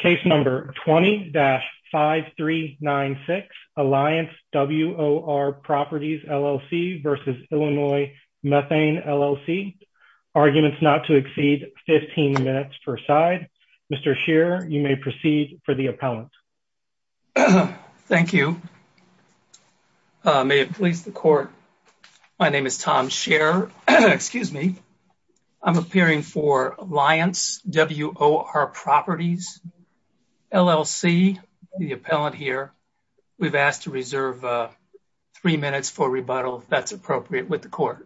Case number 20-5396 Alliance WOR Properties LLC versus Illinois Methane LLC. Arguments not to exceed 15 minutes per side. Mr. Scheer, you may proceed for the appellant. Thank you. May it please the court. My name is Tom Scheer. Excuse me. I'm appearing for LLC, the appellant here. We've asked to reserve three minutes for rebuttal, if that's appropriate, with the court.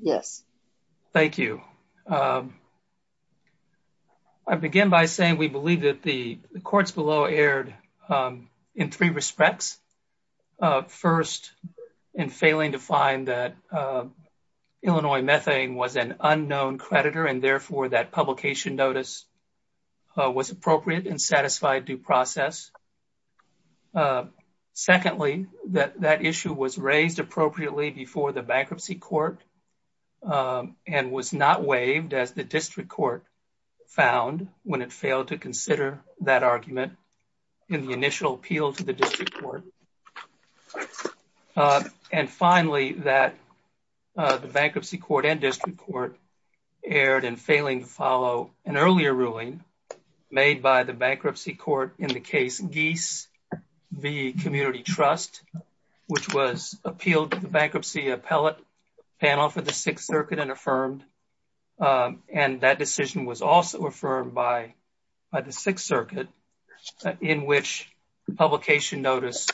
Yes. Thank you. I begin by saying we believe that the courts below erred in three respects. First, in failing to find that Illinois Methane was an was appropriate and satisfied due process. Secondly, that that issue was raised appropriately before the bankruptcy court and was not waived as the district court found when it failed to consider that argument in the initial appeal to the district court. And finally, that the bankruptcy court and district court erred in failing to follow an earlier ruling made by the bankruptcy court in the case Geese v. Community Trust, which was appealed to the bankruptcy appellate panel for the Sixth Circuit and affirmed. And that decision was also affirmed by the Sixth Circuit in which publication notice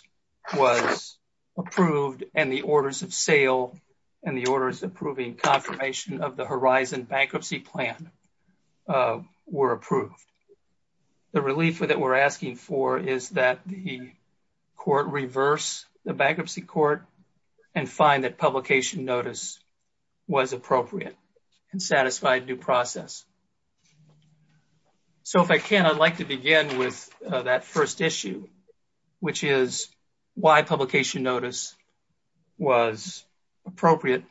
was approved and the orders of sale and the orders approving confirmation of the Horizon Bankruptcy Plan were approved. The relief that we're asking for is that the court reverse the bankruptcy court and find that publication notice was appropriate and satisfied due process. So if I can, I'd like to begin with that first issue, which is why publication notice was appropriate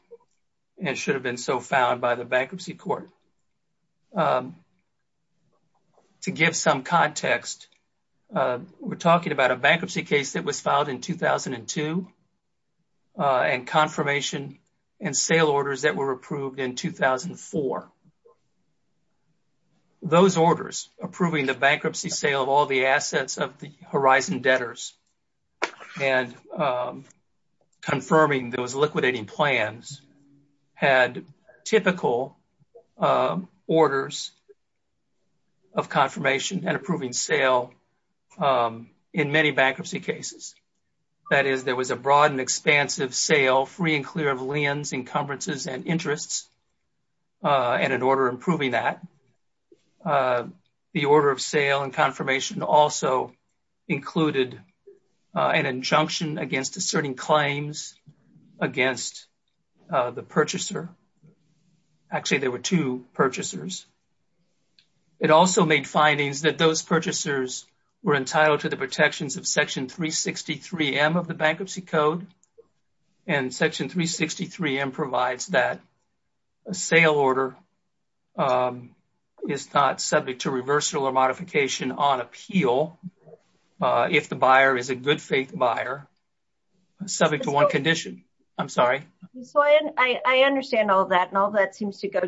and should have been so found by the bankruptcy court. To give some context, we're talking about a bankruptcy case that was filed in 2002 and confirmation and sale orders that were approved in 2004. Those orders approving the bankruptcy sale of all the assets of the Horizon debtors and confirming those liquidating plans had typical orders of confirmation and approving sale in many bankruptcy cases. That is, there was a broad and expansive sale, free and clear of liens, encumbrances, and interests and an order approving that. The order of sale and confirmation also included an injunction against asserting claims against the purchaser. Actually, there were two were entitled to the protections of Section 363M of the Bankruptcy Code, and Section 363M provides that a sale order is not subject to reversal or modification on appeal if the buyer is a good faith buyer subject to one condition. I'm sorry. So I understand all that, and all that seems to imply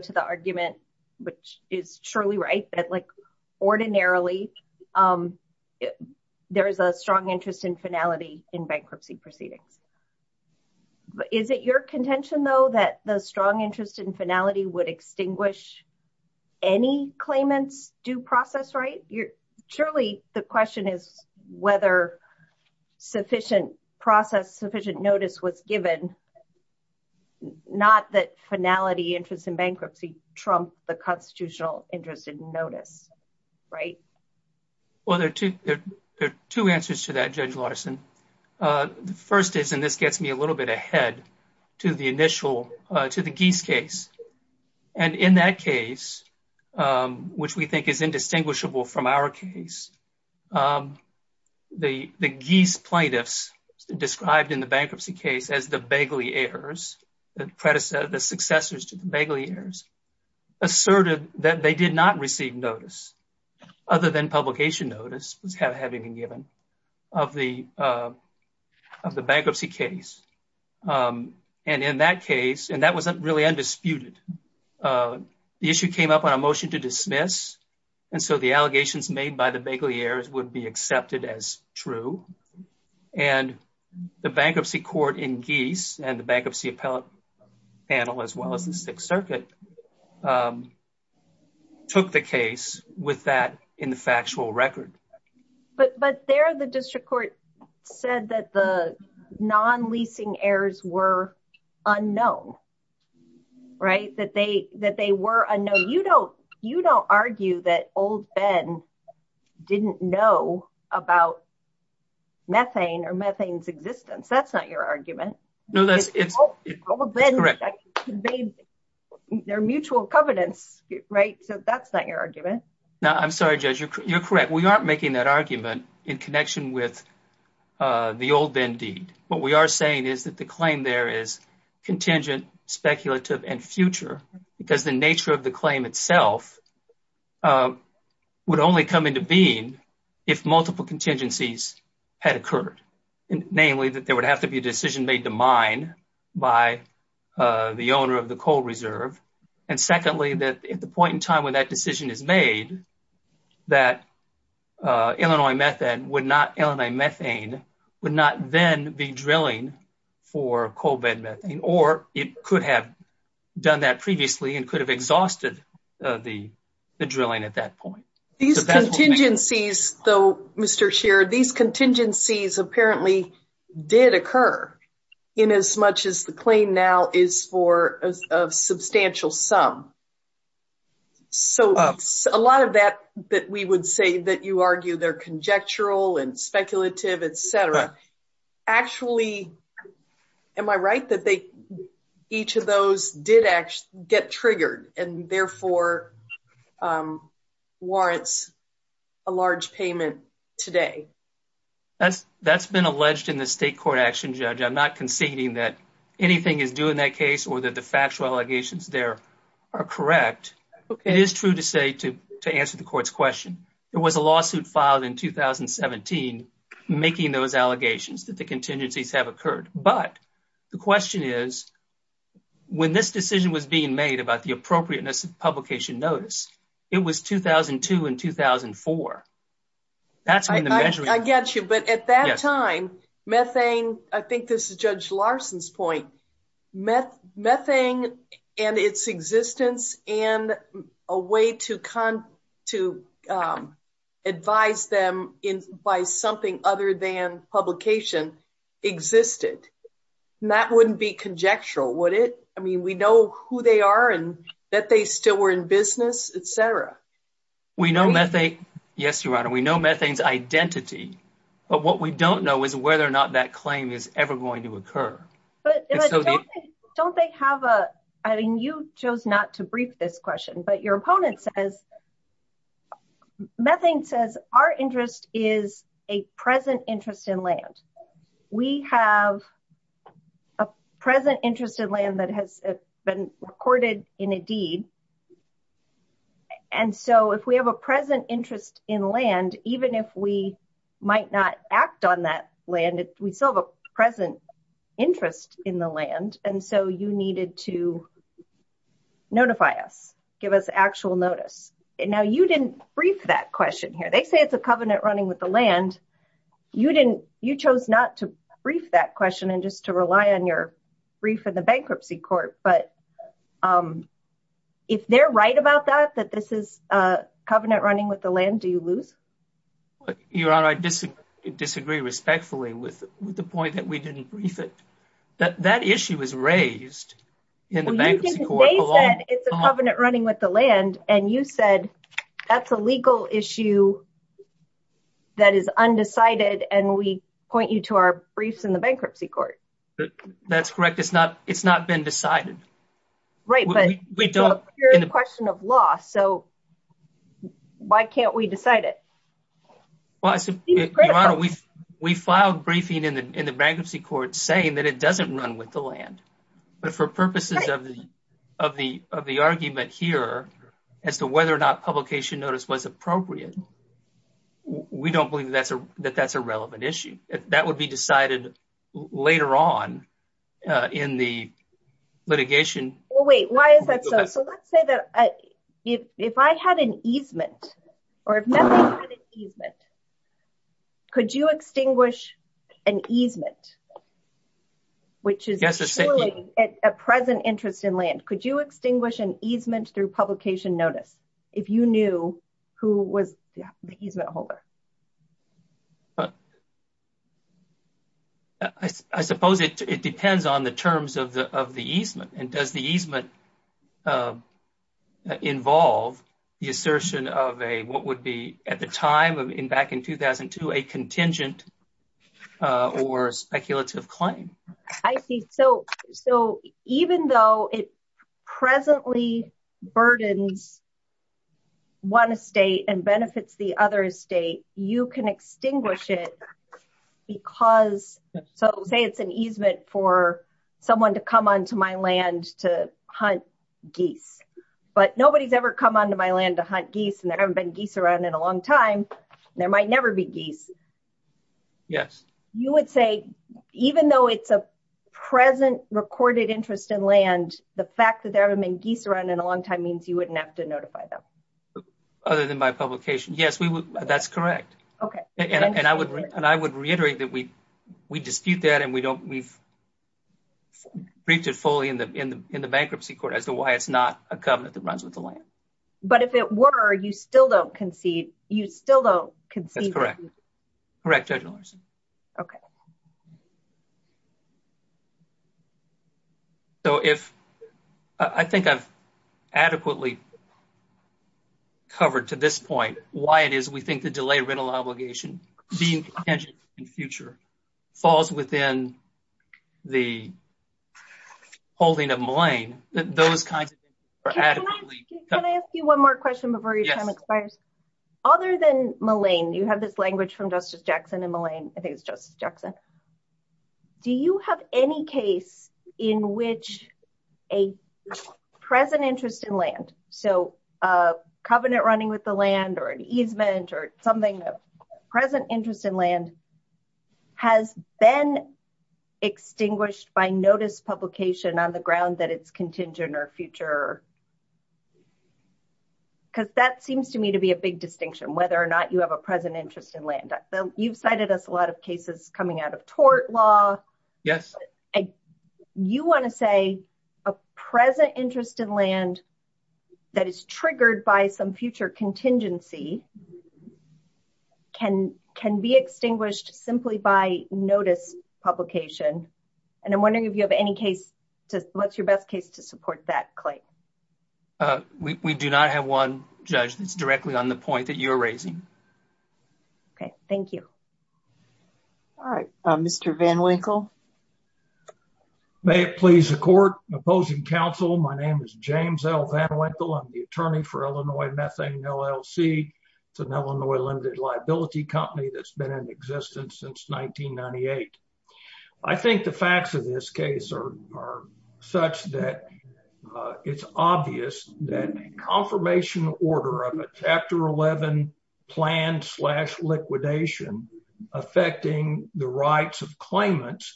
there is a strong interest in finality in bankruptcy proceedings. Is it your contention, though, that the strong interest in finality would extinguish any claimant's due process right? Surely the question is whether sufficient process, sufficient notice was given, not that finality interest in bankruptcy trumped the constitutional interest in notice, right? Well, there are two answers to that, Judge Larson. The first is, and this gets me a little bit ahead to the initial, to the Geese case. And in that case, which we think is indistinguishable from our case, the Geese plaintiffs described in the bankruptcy case as the begliers, the predecessors, to the begliers, asserted that they did not receive notice other than publication notice was having been given of the bankruptcy case. And in that case, and that was really undisputed, the issue came up on a motion to dismiss, and so the allegations made by the begliers would be the same as the Sixth Circuit took the case with that in the factual record. But there the district court said that the non-leasing errors were unknown, right? That they were unknown. You don't argue that old Ben didn't know about methane or methane's existence. That's not your argument. No, that's correct. Old Ben conveyed their mutual covenants, right? So that's not your argument. No, I'm sorry, Judge, you're correct. We aren't making that argument in connection with the old Ben Deed. What we are saying is that the claim there is contingent, speculative, and future because the nature of the claim itself would only come into being if multiple contingencies had occurred. Namely, that there would have to be a decision made to mine by the owner of the coal reserve. And secondly, that at the point in time when that decision is made, that Illinois Methane would not then be drilling for coal bed methane, or it could have done that previously and could have exhausted the drilling at that point. These contingencies, though, Mr. Scheer, these contingencies apparently did occur in as much as the claim now is for a substantial sum. So a lot of that that we would say that you argue they're conjectural and speculative, et cetera, actually, am I right that each of those did actually get triggered and therefore warrants a large payment today? That's been alleged in the state court action, Judge. I'm not conceding that anything is due in that case or that the factual allegations there are correct. It is true to say, to answer the court's question, there was a lawsuit filed in 2017, making those allegations that the contingencies have occurred. But the question is, when this decision was being made about the appropriateness of publication notice, it was 2002 and 2004. I get you. But at that time, I think this is Judge Larson's point, methane and its existence and a way to advise them by something other than publication existed. That wouldn't be conjectural, would it? I mean, we know who they are and that they still were in business, et cetera. We know methane. Yes, Your Honor, we know methane's identity. But what we don't know is whether or not that claim is ever going to occur. But don't they have a, I mean, you chose not to brief this question, but your opponent says, methane says our interest is a present interest in land. We have a present interest in land that has been recorded in a deed. And so if we have a present interest in land, even if we might not act on that land, we still have a present interest in the land. And so you needed to notify us, give us actual notice. And now you didn't brief that question here. They say it's a covenant running with the land. You chose not to brief that question and just to rely on your brief in the bankruptcy court. But if they're right about that, that this is a covenant running with the land, do you lose? Your Honor, I disagree respectfully with the point that we didn't brief it. That issue was raised in the bankruptcy court. They said it's a covenant running with the land and you said that's a legal issue that is undecided. And we point you to our briefs in the bankruptcy court. That's correct. It's not been decided. Right. But we don't. You're in the question of law. So why can't we decide it? We filed briefing in the bankruptcy court saying that it doesn't run with the land. But for purposes of the argument here as to whether or not publication notice was appropriate, we don't believe that that's a relevant issue. That would be decided later on in the litigation. Well, wait, why is that so? So let's say that if I had an easement or if nothing had an easement, could you extinguish an easement? Which is a present interest in land. Could you extinguish an easement through publication notice if you knew who was the easement holder? I suppose it depends on the terms of the of the easement. And does the easement involve the assertion of a what would be at the time of in back in 2002, a contingent or speculative claim? I see. So so even though it presently burdens one state and benefits the other state, you can extinguish it because. So say it's an easement for someone to come onto my land to hunt geese. But nobody's ever come onto my land to hunt geese and there haven't been geese around in a long time. There might never be geese. Yes. You would say even though it's a present recorded interest in land, the fact that there have been geese around in a long time means you wouldn't have to notify them. Other than by publication. Yes, we would. That's correct. OK. And I would and I would reiterate that we we dispute that and we don't we've reached it fully in the in the in the bankruptcy court as to why it's not a covenant that runs with the land. But if it were, you still don't concede. You still don't concede. Correct, Judge Larson. OK. So if I think I've adequately covered to this point why it is we think the delay rental obligation being contingent in the future falls within the holding of Mullane, that those kinds of things are adequately. Can I ask you one more question before your time expires? Other than Mullane, you have this language from Justice Jackson and Mullane, I think it's Justice Jackson. Do you have any case in which a present interest in land, so a covenant running with the land or an easement or something, present interest in land has been extinguished by notice publication on the ground that it's contingent or future? Because that seems to be a big distinction, whether or not you have a present interest in land. You've cited us a lot of cases coming out of tort law. Yes. You want to say a present interest in land that is triggered by some future contingency can can be extinguished simply by notice publication. And I'm wondering if you have any case to what's your best case to support that claim? We do not have one, Judge. It's directly on the point that you're raising. Okay. Thank you. All right. Mr. Van Winkle. May it please the court. Opposing counsel. My name is James L. Van Winkle. I'm the attorney for Illinois Methane LLC. It's an Illinois limited liability company that's been in existence since 1998. I think the facts of this case are such that it's obvious that a confirmation order of a Chapter 11 plan slash liquidation affecting the rights of claimants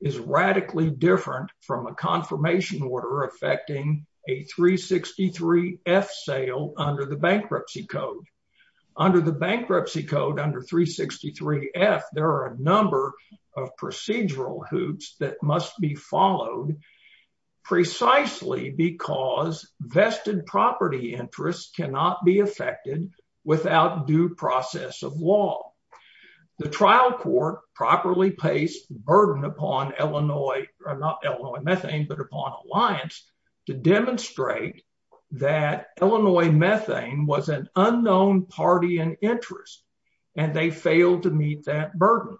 is radically different from a confirmation order affecting a 363 F sale under the bankruptcy code. Under the bankruptcy code, under 363 F, there are a number of procedural hoops that must be followed precisely because vested property interests cannot be affected without due process of law. The trial court properly placed burden upon Illinois, not Illinois Methane, but upon Alliance to demonstrate that they failed to meet that burden.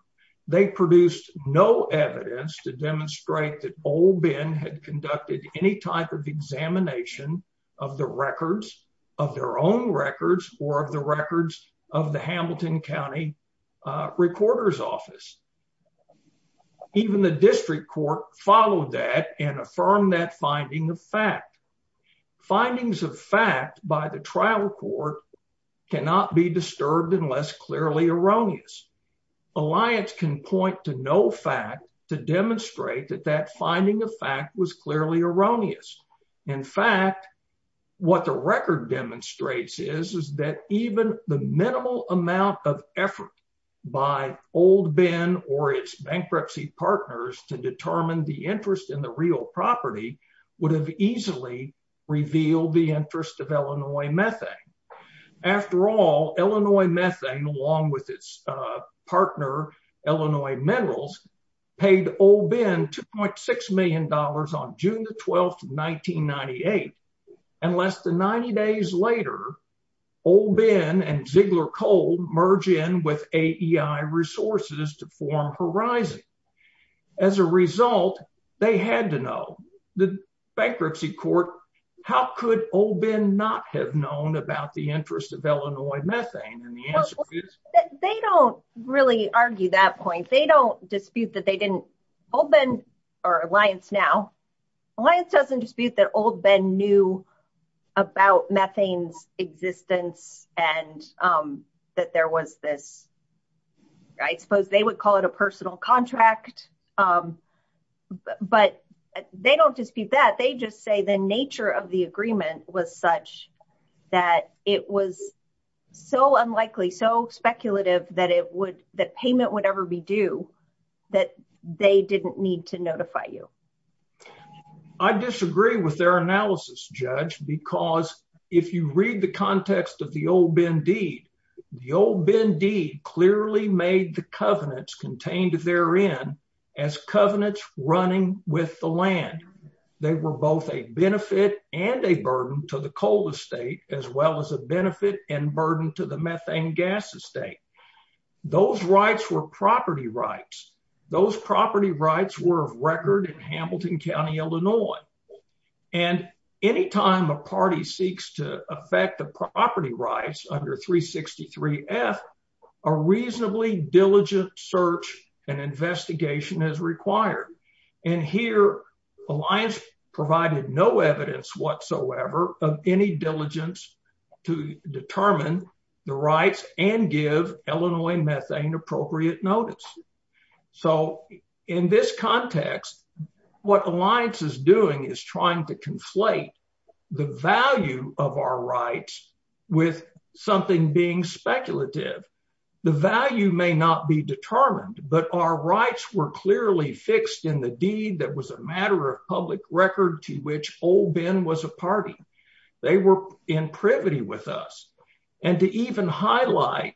They produced no evidence to demonstrate that Old Ben had conducted any type of examination of the records of their own records or of the records of the Hamilton County Recorder's Office. Even the district court followed that and affirmed that of fact. Findings of fact by the trial court cannot be disturbed unless clearly erroneous. Alliance can point to no fact to demonstrate that that finding of fact was clearly erroneous. In fact, what the record demonstrates is that even the minimal amount of effort by Old Ben or its bankruptcy partners to determine the interest in the real property would have easily revealed the interest of Illinois Methane. After all, Illinois Methane, along with its partner Illinois Minerals, paid Old Ben 2.6 million dollars on June the 12th, 1998, and less than 90 days later, Old Ben and Ziegler Coal merge in with AEI Resources to form Horizon. As a result, they had to know. The bankruptcy court, how could Old Ben not have known about the interest of Illinois Methane? And the answer is, they don't really argue that point. They don't dispute that they didn't, Old Ben, or Alliance now, Alliance doesn't dispute that Old Ben knew about methane's existence and that there was this, I suppose they would call it a personal contract, but they don't dispute that. They just say the nature of the agreement was such that it was so unlikely, so speculative, that it would, that payment would ever be due, that they didn't need to notify you. I disagree with their analysis, Judge, because if you read the context of the Old Ben deed, the Old Ben deed clearly made the covenants contained therein as covenants running with the land. They were both a benefit and a burden to the coal estate, as well as a benefit and burden to the methane gas estate. Those rights were property rights. Those property rights were of record in Hamilton County, Illinois. And any time a party seeks to affect the property rights under 363 F, a reasonably diligent search and investigation is required. And here, Alliance provided no evidence whatsoever of any diligence to determine the rights and give Illinois Methane appropriate notice. So, in this context, what Alliance is doing is trying to conflate the value of our rights with something being speculative. The value may not be determined, but our rights were clearly fixed in the deed that was a matter of public record to which Old Ben was a party. They were in privity with us. And to even highlight,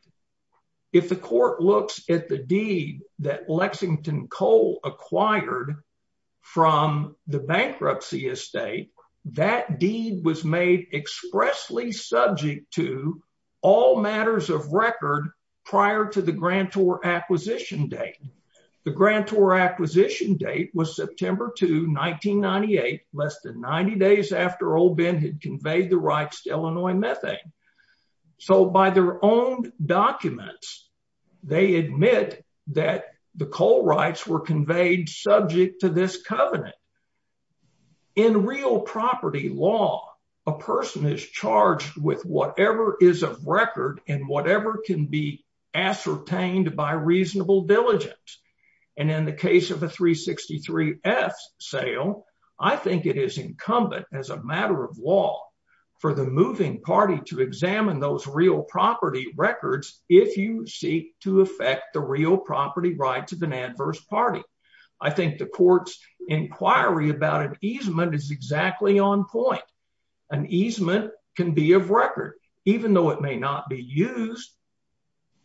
if the court looks at the deed that Lexington Coal acquired from the bankruptcy estate, that deed was made expressly subject to all matters of record prior to the grantor acquisition date. The grantor acquisition date was September 2, 1998, less than 90 days after Old Ben had conveyed the rights to Illinois Methane. So, by their own documents, they admit that the coal rights were conveyed subject to this covenant. In real property law, a person is charged with whatever is of record and whatever can be ascertained by reasonable diligence. And in the case of a 363F sale, I think it is incumbent, as a matter of law, for the moving party to examine those real property records if you seek to affect the real property rights of an adverse party. I think the court's inquiry about an easement is exactly on point. An easement can be of record, even though it may not be used.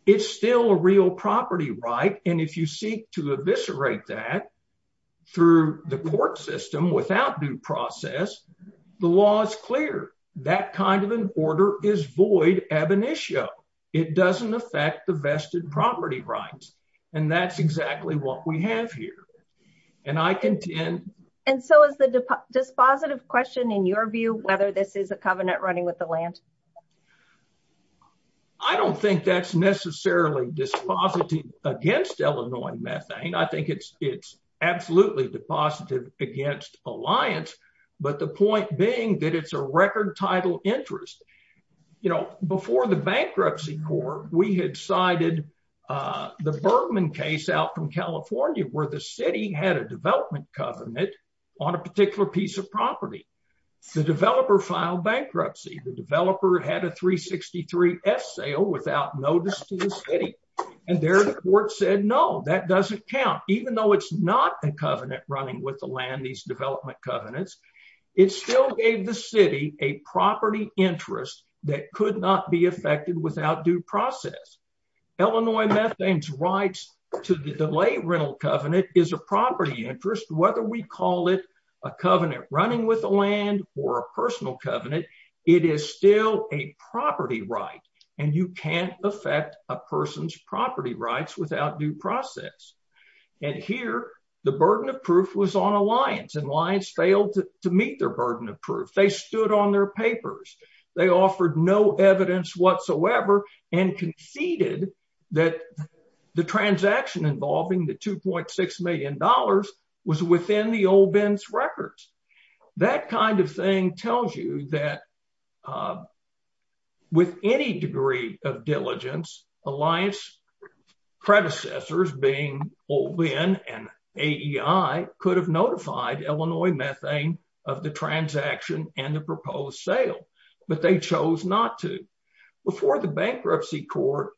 It's still a real property right. And if you seek to eviscerate that through the court system without due process, the law is clear. That kind of an order is void ab initio. It doesn't affect the vested property rights. And that's exactly what we have here. And I contend... And so, is the dispositive question, in your view, whether this is a covenant running with the land? I don't think that's necessarily dispositive against Illinois Methane. I think it's absolutely depositive against Alliance, but the point being that it's a record title interest. You know, before the bankruptcy court, we had cited the Bergman case out from California, where the city had a development covenant on a particular piece of property. The developer filed bankruptcy. The developer had a 363S sale without notice to the city. And there the court said, no, that doesn't count. Even though it's not a covenant running with the land, these development covenants, it still gave the city a property interest that could not be affected without due process. Illinois Methane's rights to the delay rental covenant is a property interest, whether we call it a covenant running with the land or a personal covenant. It is still a property right, and you can't affect a person's property rights without due process. And here, the burden of proof was on Alliance, and Alliance failed to meet their burden of proof. They stood on their papers. They offered no evidence whatsoever and conceded that the transaction involving the 2.6 million dollars was within the Old Bend's records. That kind of thing tells you that with any degree of diligence, Alliance predecessors being Old Bend and AEI could have notified Illinois Methane of the transaction and the proposed sale, but they chose not to. Before the bankruptcy court,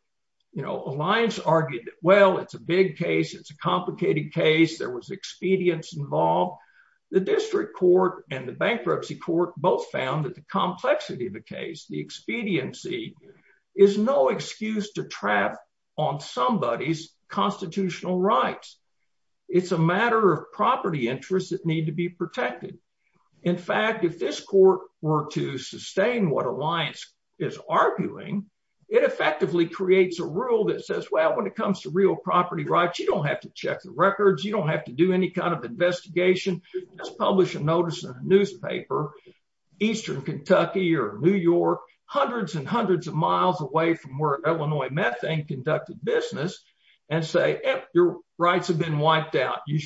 you know, Alliance argued that, well, it's a big case, it's a complicated case, there was expedience involved. The district court and the bankruptcy court both found that the complexity of the case, the expediency, is no excuse to trap on somebody's constitutional rights. It's a matter of property interests that need to be protected. In fact, if this court were to sustain what Alliance is arguing, it effectively creates a rule that says, well, when it comes to real property rights, you don't have to check the records, you don't have to do any kind of investigation. Just publish a notice in a newspaper, Eastern Kentucky or New York, hundreds and hundreds of miles away from where Illinois Methane conducted business, and say, yep, your rights have been wiped out. You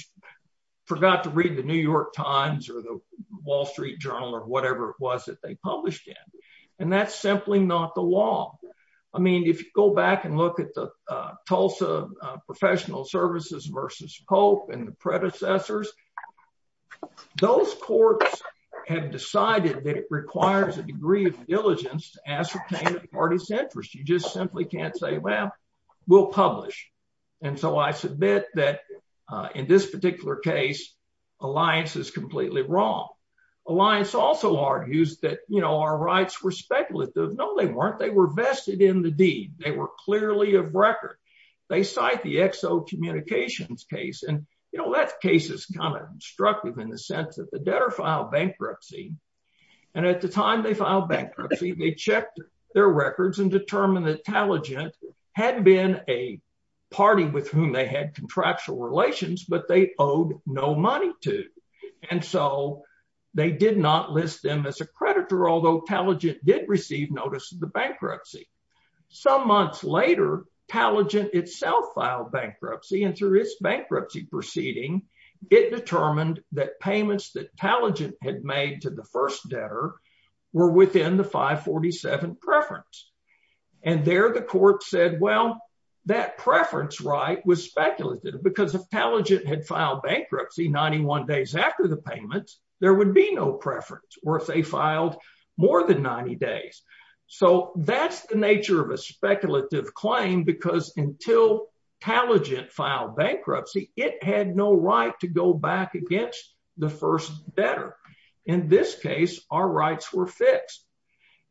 forgot to read the New York Times or the Wall Street Journal or whatever it was that they published in. And that's simply not the law. I mean, if you go back and look at the Tulsa Professional Services versus Pope and the predecessors, those courts have decided that it requires a degree of diligence to ascertain the party's interest. You just simply can't say, well, we'll publish. And so I submit that in this particular case, Alliance is completely wrong. Alliance also argues that, you know, our rights were speculative. No, they weren't. They were vested in the deed. They were clearly of record. They cite the Exo Communications case. And, you know, that case is kind of instructive in the sense that the debtor filed bankruptcy. And at the time they filed bankruptcy, they checked their records and had contractual relations, but they owed no money to. And so they did not list them as a creditor, although Talegent did receive notice of the bankruptcy. Some months later, Talegent itself filed bankruptcy, and through its bankruptcy proceeding, it determined that payments that Talegent had made to the first debtor were within the 547 preference. And there the court said, well, that preference right was speculative, because if Talegent had filed bankruptcy 91 days after the payments, there would be no preference, or if they filed more than 90 days. So that's the nature of a speculative claim, because until Talegent filed bankruptcy, it had no right to go back against the first debtor. In this case, our rights were fixed.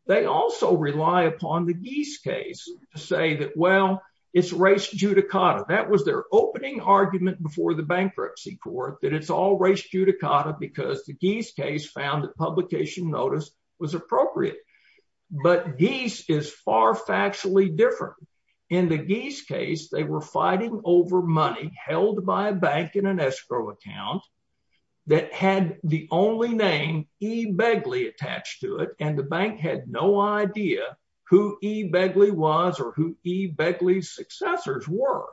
They also rely upon the Geese case to say that, well, it's race judicata. That was their opening argument before the bankruptcy court, that it's all race judicata, because the Geese case found that publication notice was appropriate. But Geese is far factually different. In the Geese case, they were fighting over money held by a bank in an escrow account that had the only name E. Begley attached to it, the bank had no idea who E. Begley was or who E. Begley's successors were.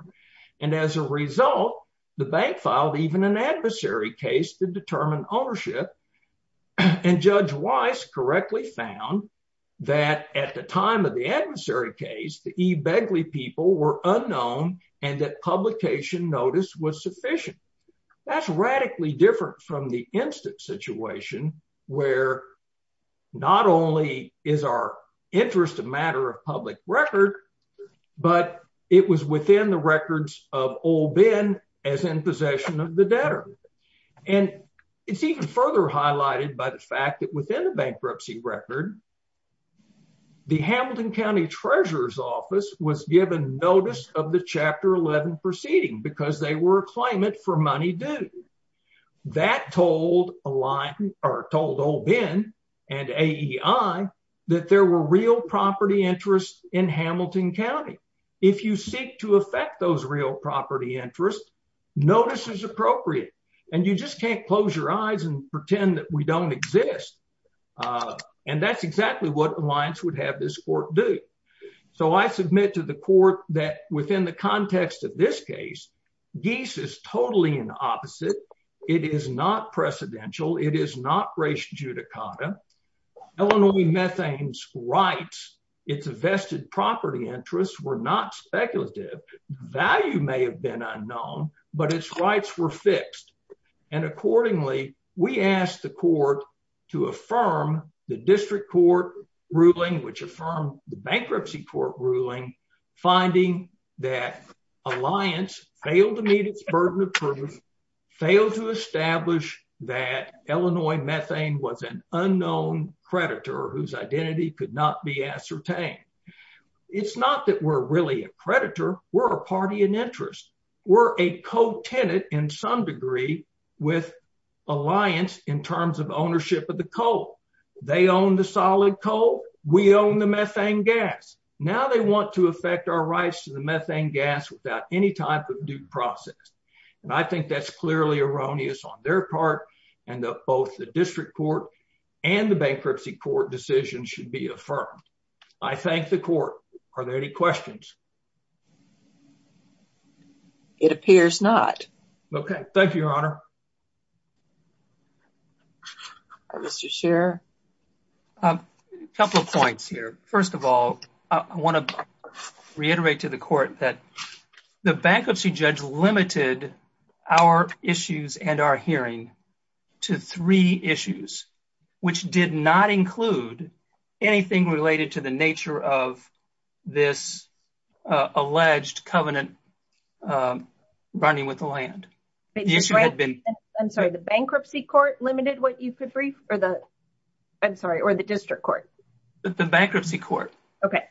And as a result, the bank filed even an adversary case to determine ownership. And Judge Weiss correctly found that at the time of the adversary case, the E. Begley people were unknown, and that publication notice was sufficient. That's radically different from the instant situation where not only is our interest a matter of public record, but it was within the records of old Ben as in possession of the debtor. And it's even further highlighted by the fact that within the bankruptcy record, the Hamilton County Treasurer's Office was given notice of the Chapter 11 proceeding because they were claiming it for money due. That told old Ben and AEI that there were real property interests in Hamilton County. If you seek to affect those real property interests, notice is appropriate, and you just can't close your eyes and pretend that we don't exist. And that's exactly what Alliance would have this court do. So I submit to the court that within the context of this case, Geese is totally in the opposite. It is not precedential. It is not res judicata. Illinois Methane's rights, its vested property interests were not speculative. Value may have been unknown, but its rights were fixed. And accordingly, we asked the court to affirm the district court ruling, which affirmed the bankruptcy court ruling, finding that Alliance failed to meet its burden of proof, failed to establish that Illinois Methane was an unknown creditor whose identity could not be ascertained. It's not that we're really a creditor. We're a party in interest. We're a co-tenant in some degree with Alliance in terms of ownership of the coal. They own the solid coal. We own the methane gas. Now they want to affect our rights to the methane gas without any type of due process. And I think that's clearly erroneous on their part, and both the district court and the bankruptcy court decision should be affirmed. I thank the court. Are there any questions? It appears not. Okay. Thank you, Your Honor. Mr. Scheer? A couple of points here. First of all, I want to reiterate to the court that the bankruptcy judge limited our issues and our hearing to three issues, which did not include anything related to the nature of this alleged covenant running with the land. I'm sorry, the bankruptcy court limited what you could brief? I'm sorry, or the district court? The bankruptcy court. Okay.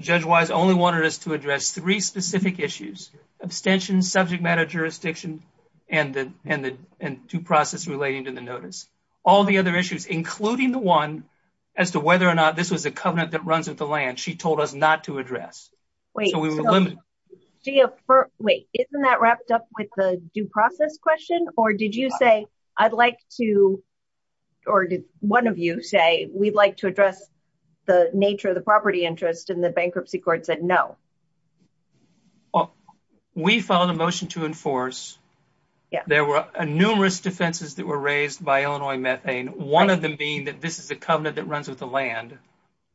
Judge Wise only wanted us to address three specific issues, abstention, subject matter jurisdiction, and due process relating to the notice. All the other issues, including the one as to whether or not this was covenant that runs with the land, she told us not to address. So we were limited. Wait, isn't that wrapped up with the due process question? Or did you say, I'd like to, or did one of you say, we'd like to address the nature of the property interest, and the bankruptcy court said no? We filed a motion to enforce. There were numerous defenses that were raised by Illinois Methane, one of them being that this is a covenant that runs with the land.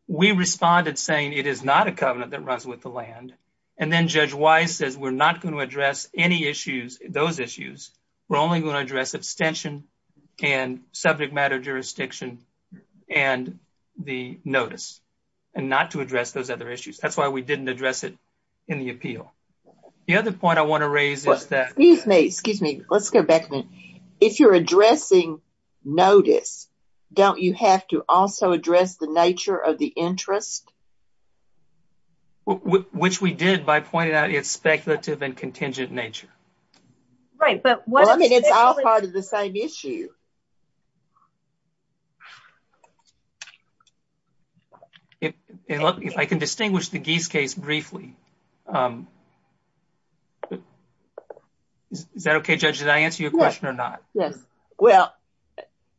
We responded saying it is not a covenant that runs with the land, and then Judge Wise says we're not going to address any issues, those issues. We're only going to address abstention, and subject matter jurisdiction, and the notice, and not to address those other issues. That's why we didn't address it in the appeal. The other point I want to raise is that- Excuse me, excuse me, let's go back a minute. If you're addressing notice, don't you have to also address the nature of the interest? Which we did by pointing out its speculative and contingent nature. Right, but- Well, then it's all part of the same issue. If I can distinguish the Gies case briefly, is that okay, Judge? Did I answer your question or not? Yes, well,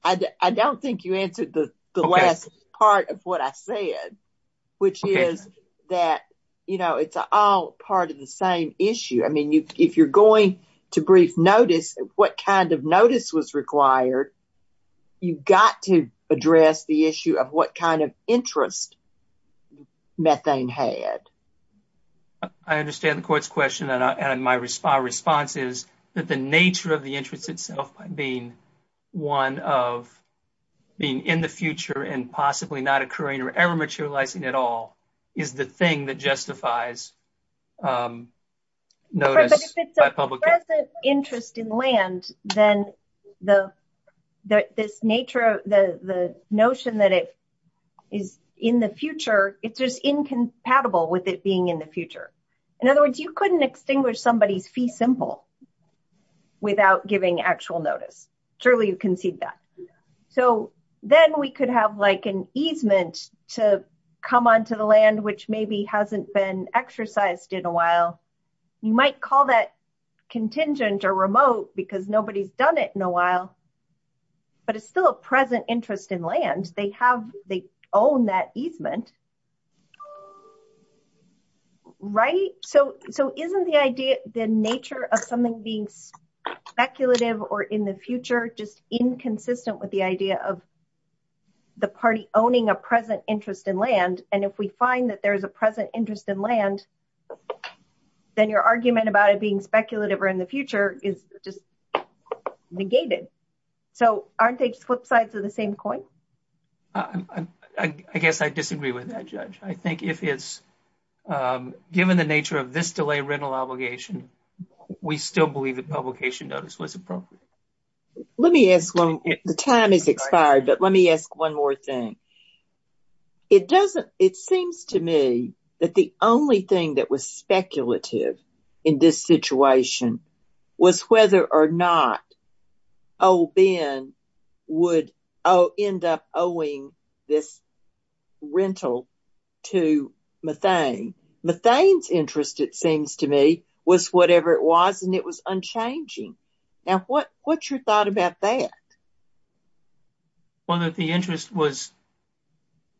I don't think you answered the last part of what I said, which is that it's all part of the same issue. I mean, if you're going to brief notice, what kind of notice was required, you've got to address the nature of the interest. I understand the court's question, and my response is that the nature of the interest itself being one of being in the future and possibly not occurring or ever materializing at all is the thing that justifies notice by public interest. If it's a present interest in land, then this nature, the notion that it is in the future, it's just incompatible with it being in the future. In other words, you couldn't extinguish somebody's fee simple without giving actual notice. Surely you concede that. Then we could have an easement to come onto the land which maybe hasn't been exercised in a while. You might call that contingent or remote because nobody's done it in a while, but it's still a present interest in land. They own that right. Isn't the idea the nature of something being speculative or in the future just inconsistent with the idea of the party owning a present interest in land? If we find that there's a present interest in land, then your argument about it being speculative or in the future is just negated. Aren't they flip sides of the same coin? I guess I disagree with that, I think if it's given the nature of this delay rental obligation, we still believe that publication notice was appropriate. Let me ask one, the time has expired, but let me ask one more thing. It seems to me that the only thing that was speculative in this situation was whether or not old Ben would end up owing this rental to Methane. Methane's interest, it seems to me, was whatever it was and it was unchanging. Now, what's your thought about that? Well, that the interest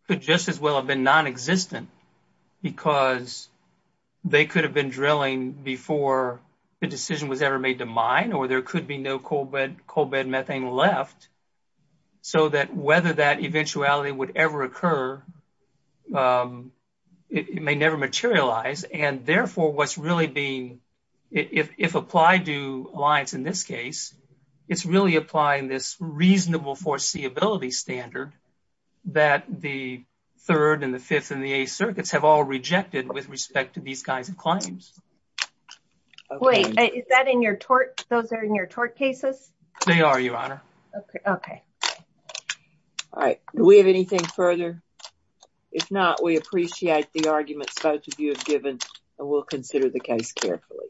could just as well have been non-existent because they could have been drilling before the decision was ever made to mine, or there could be no coal bed methane left, so that whether that eventuality would ever occur, it may never materialize. Therefore, what's really being, if applied to Alliance in this case, it's really applying this reasonable foreseeability standard that the third and the fifth and the eighth circuits have all rejected with respect to these kinds of claims. Wait, is that in your tort, those are in your tort cases? They are, your honor. Okay. All right, do we have anything further? If not, we appreciate the arguments both of you have given and we'll consider the case carefully.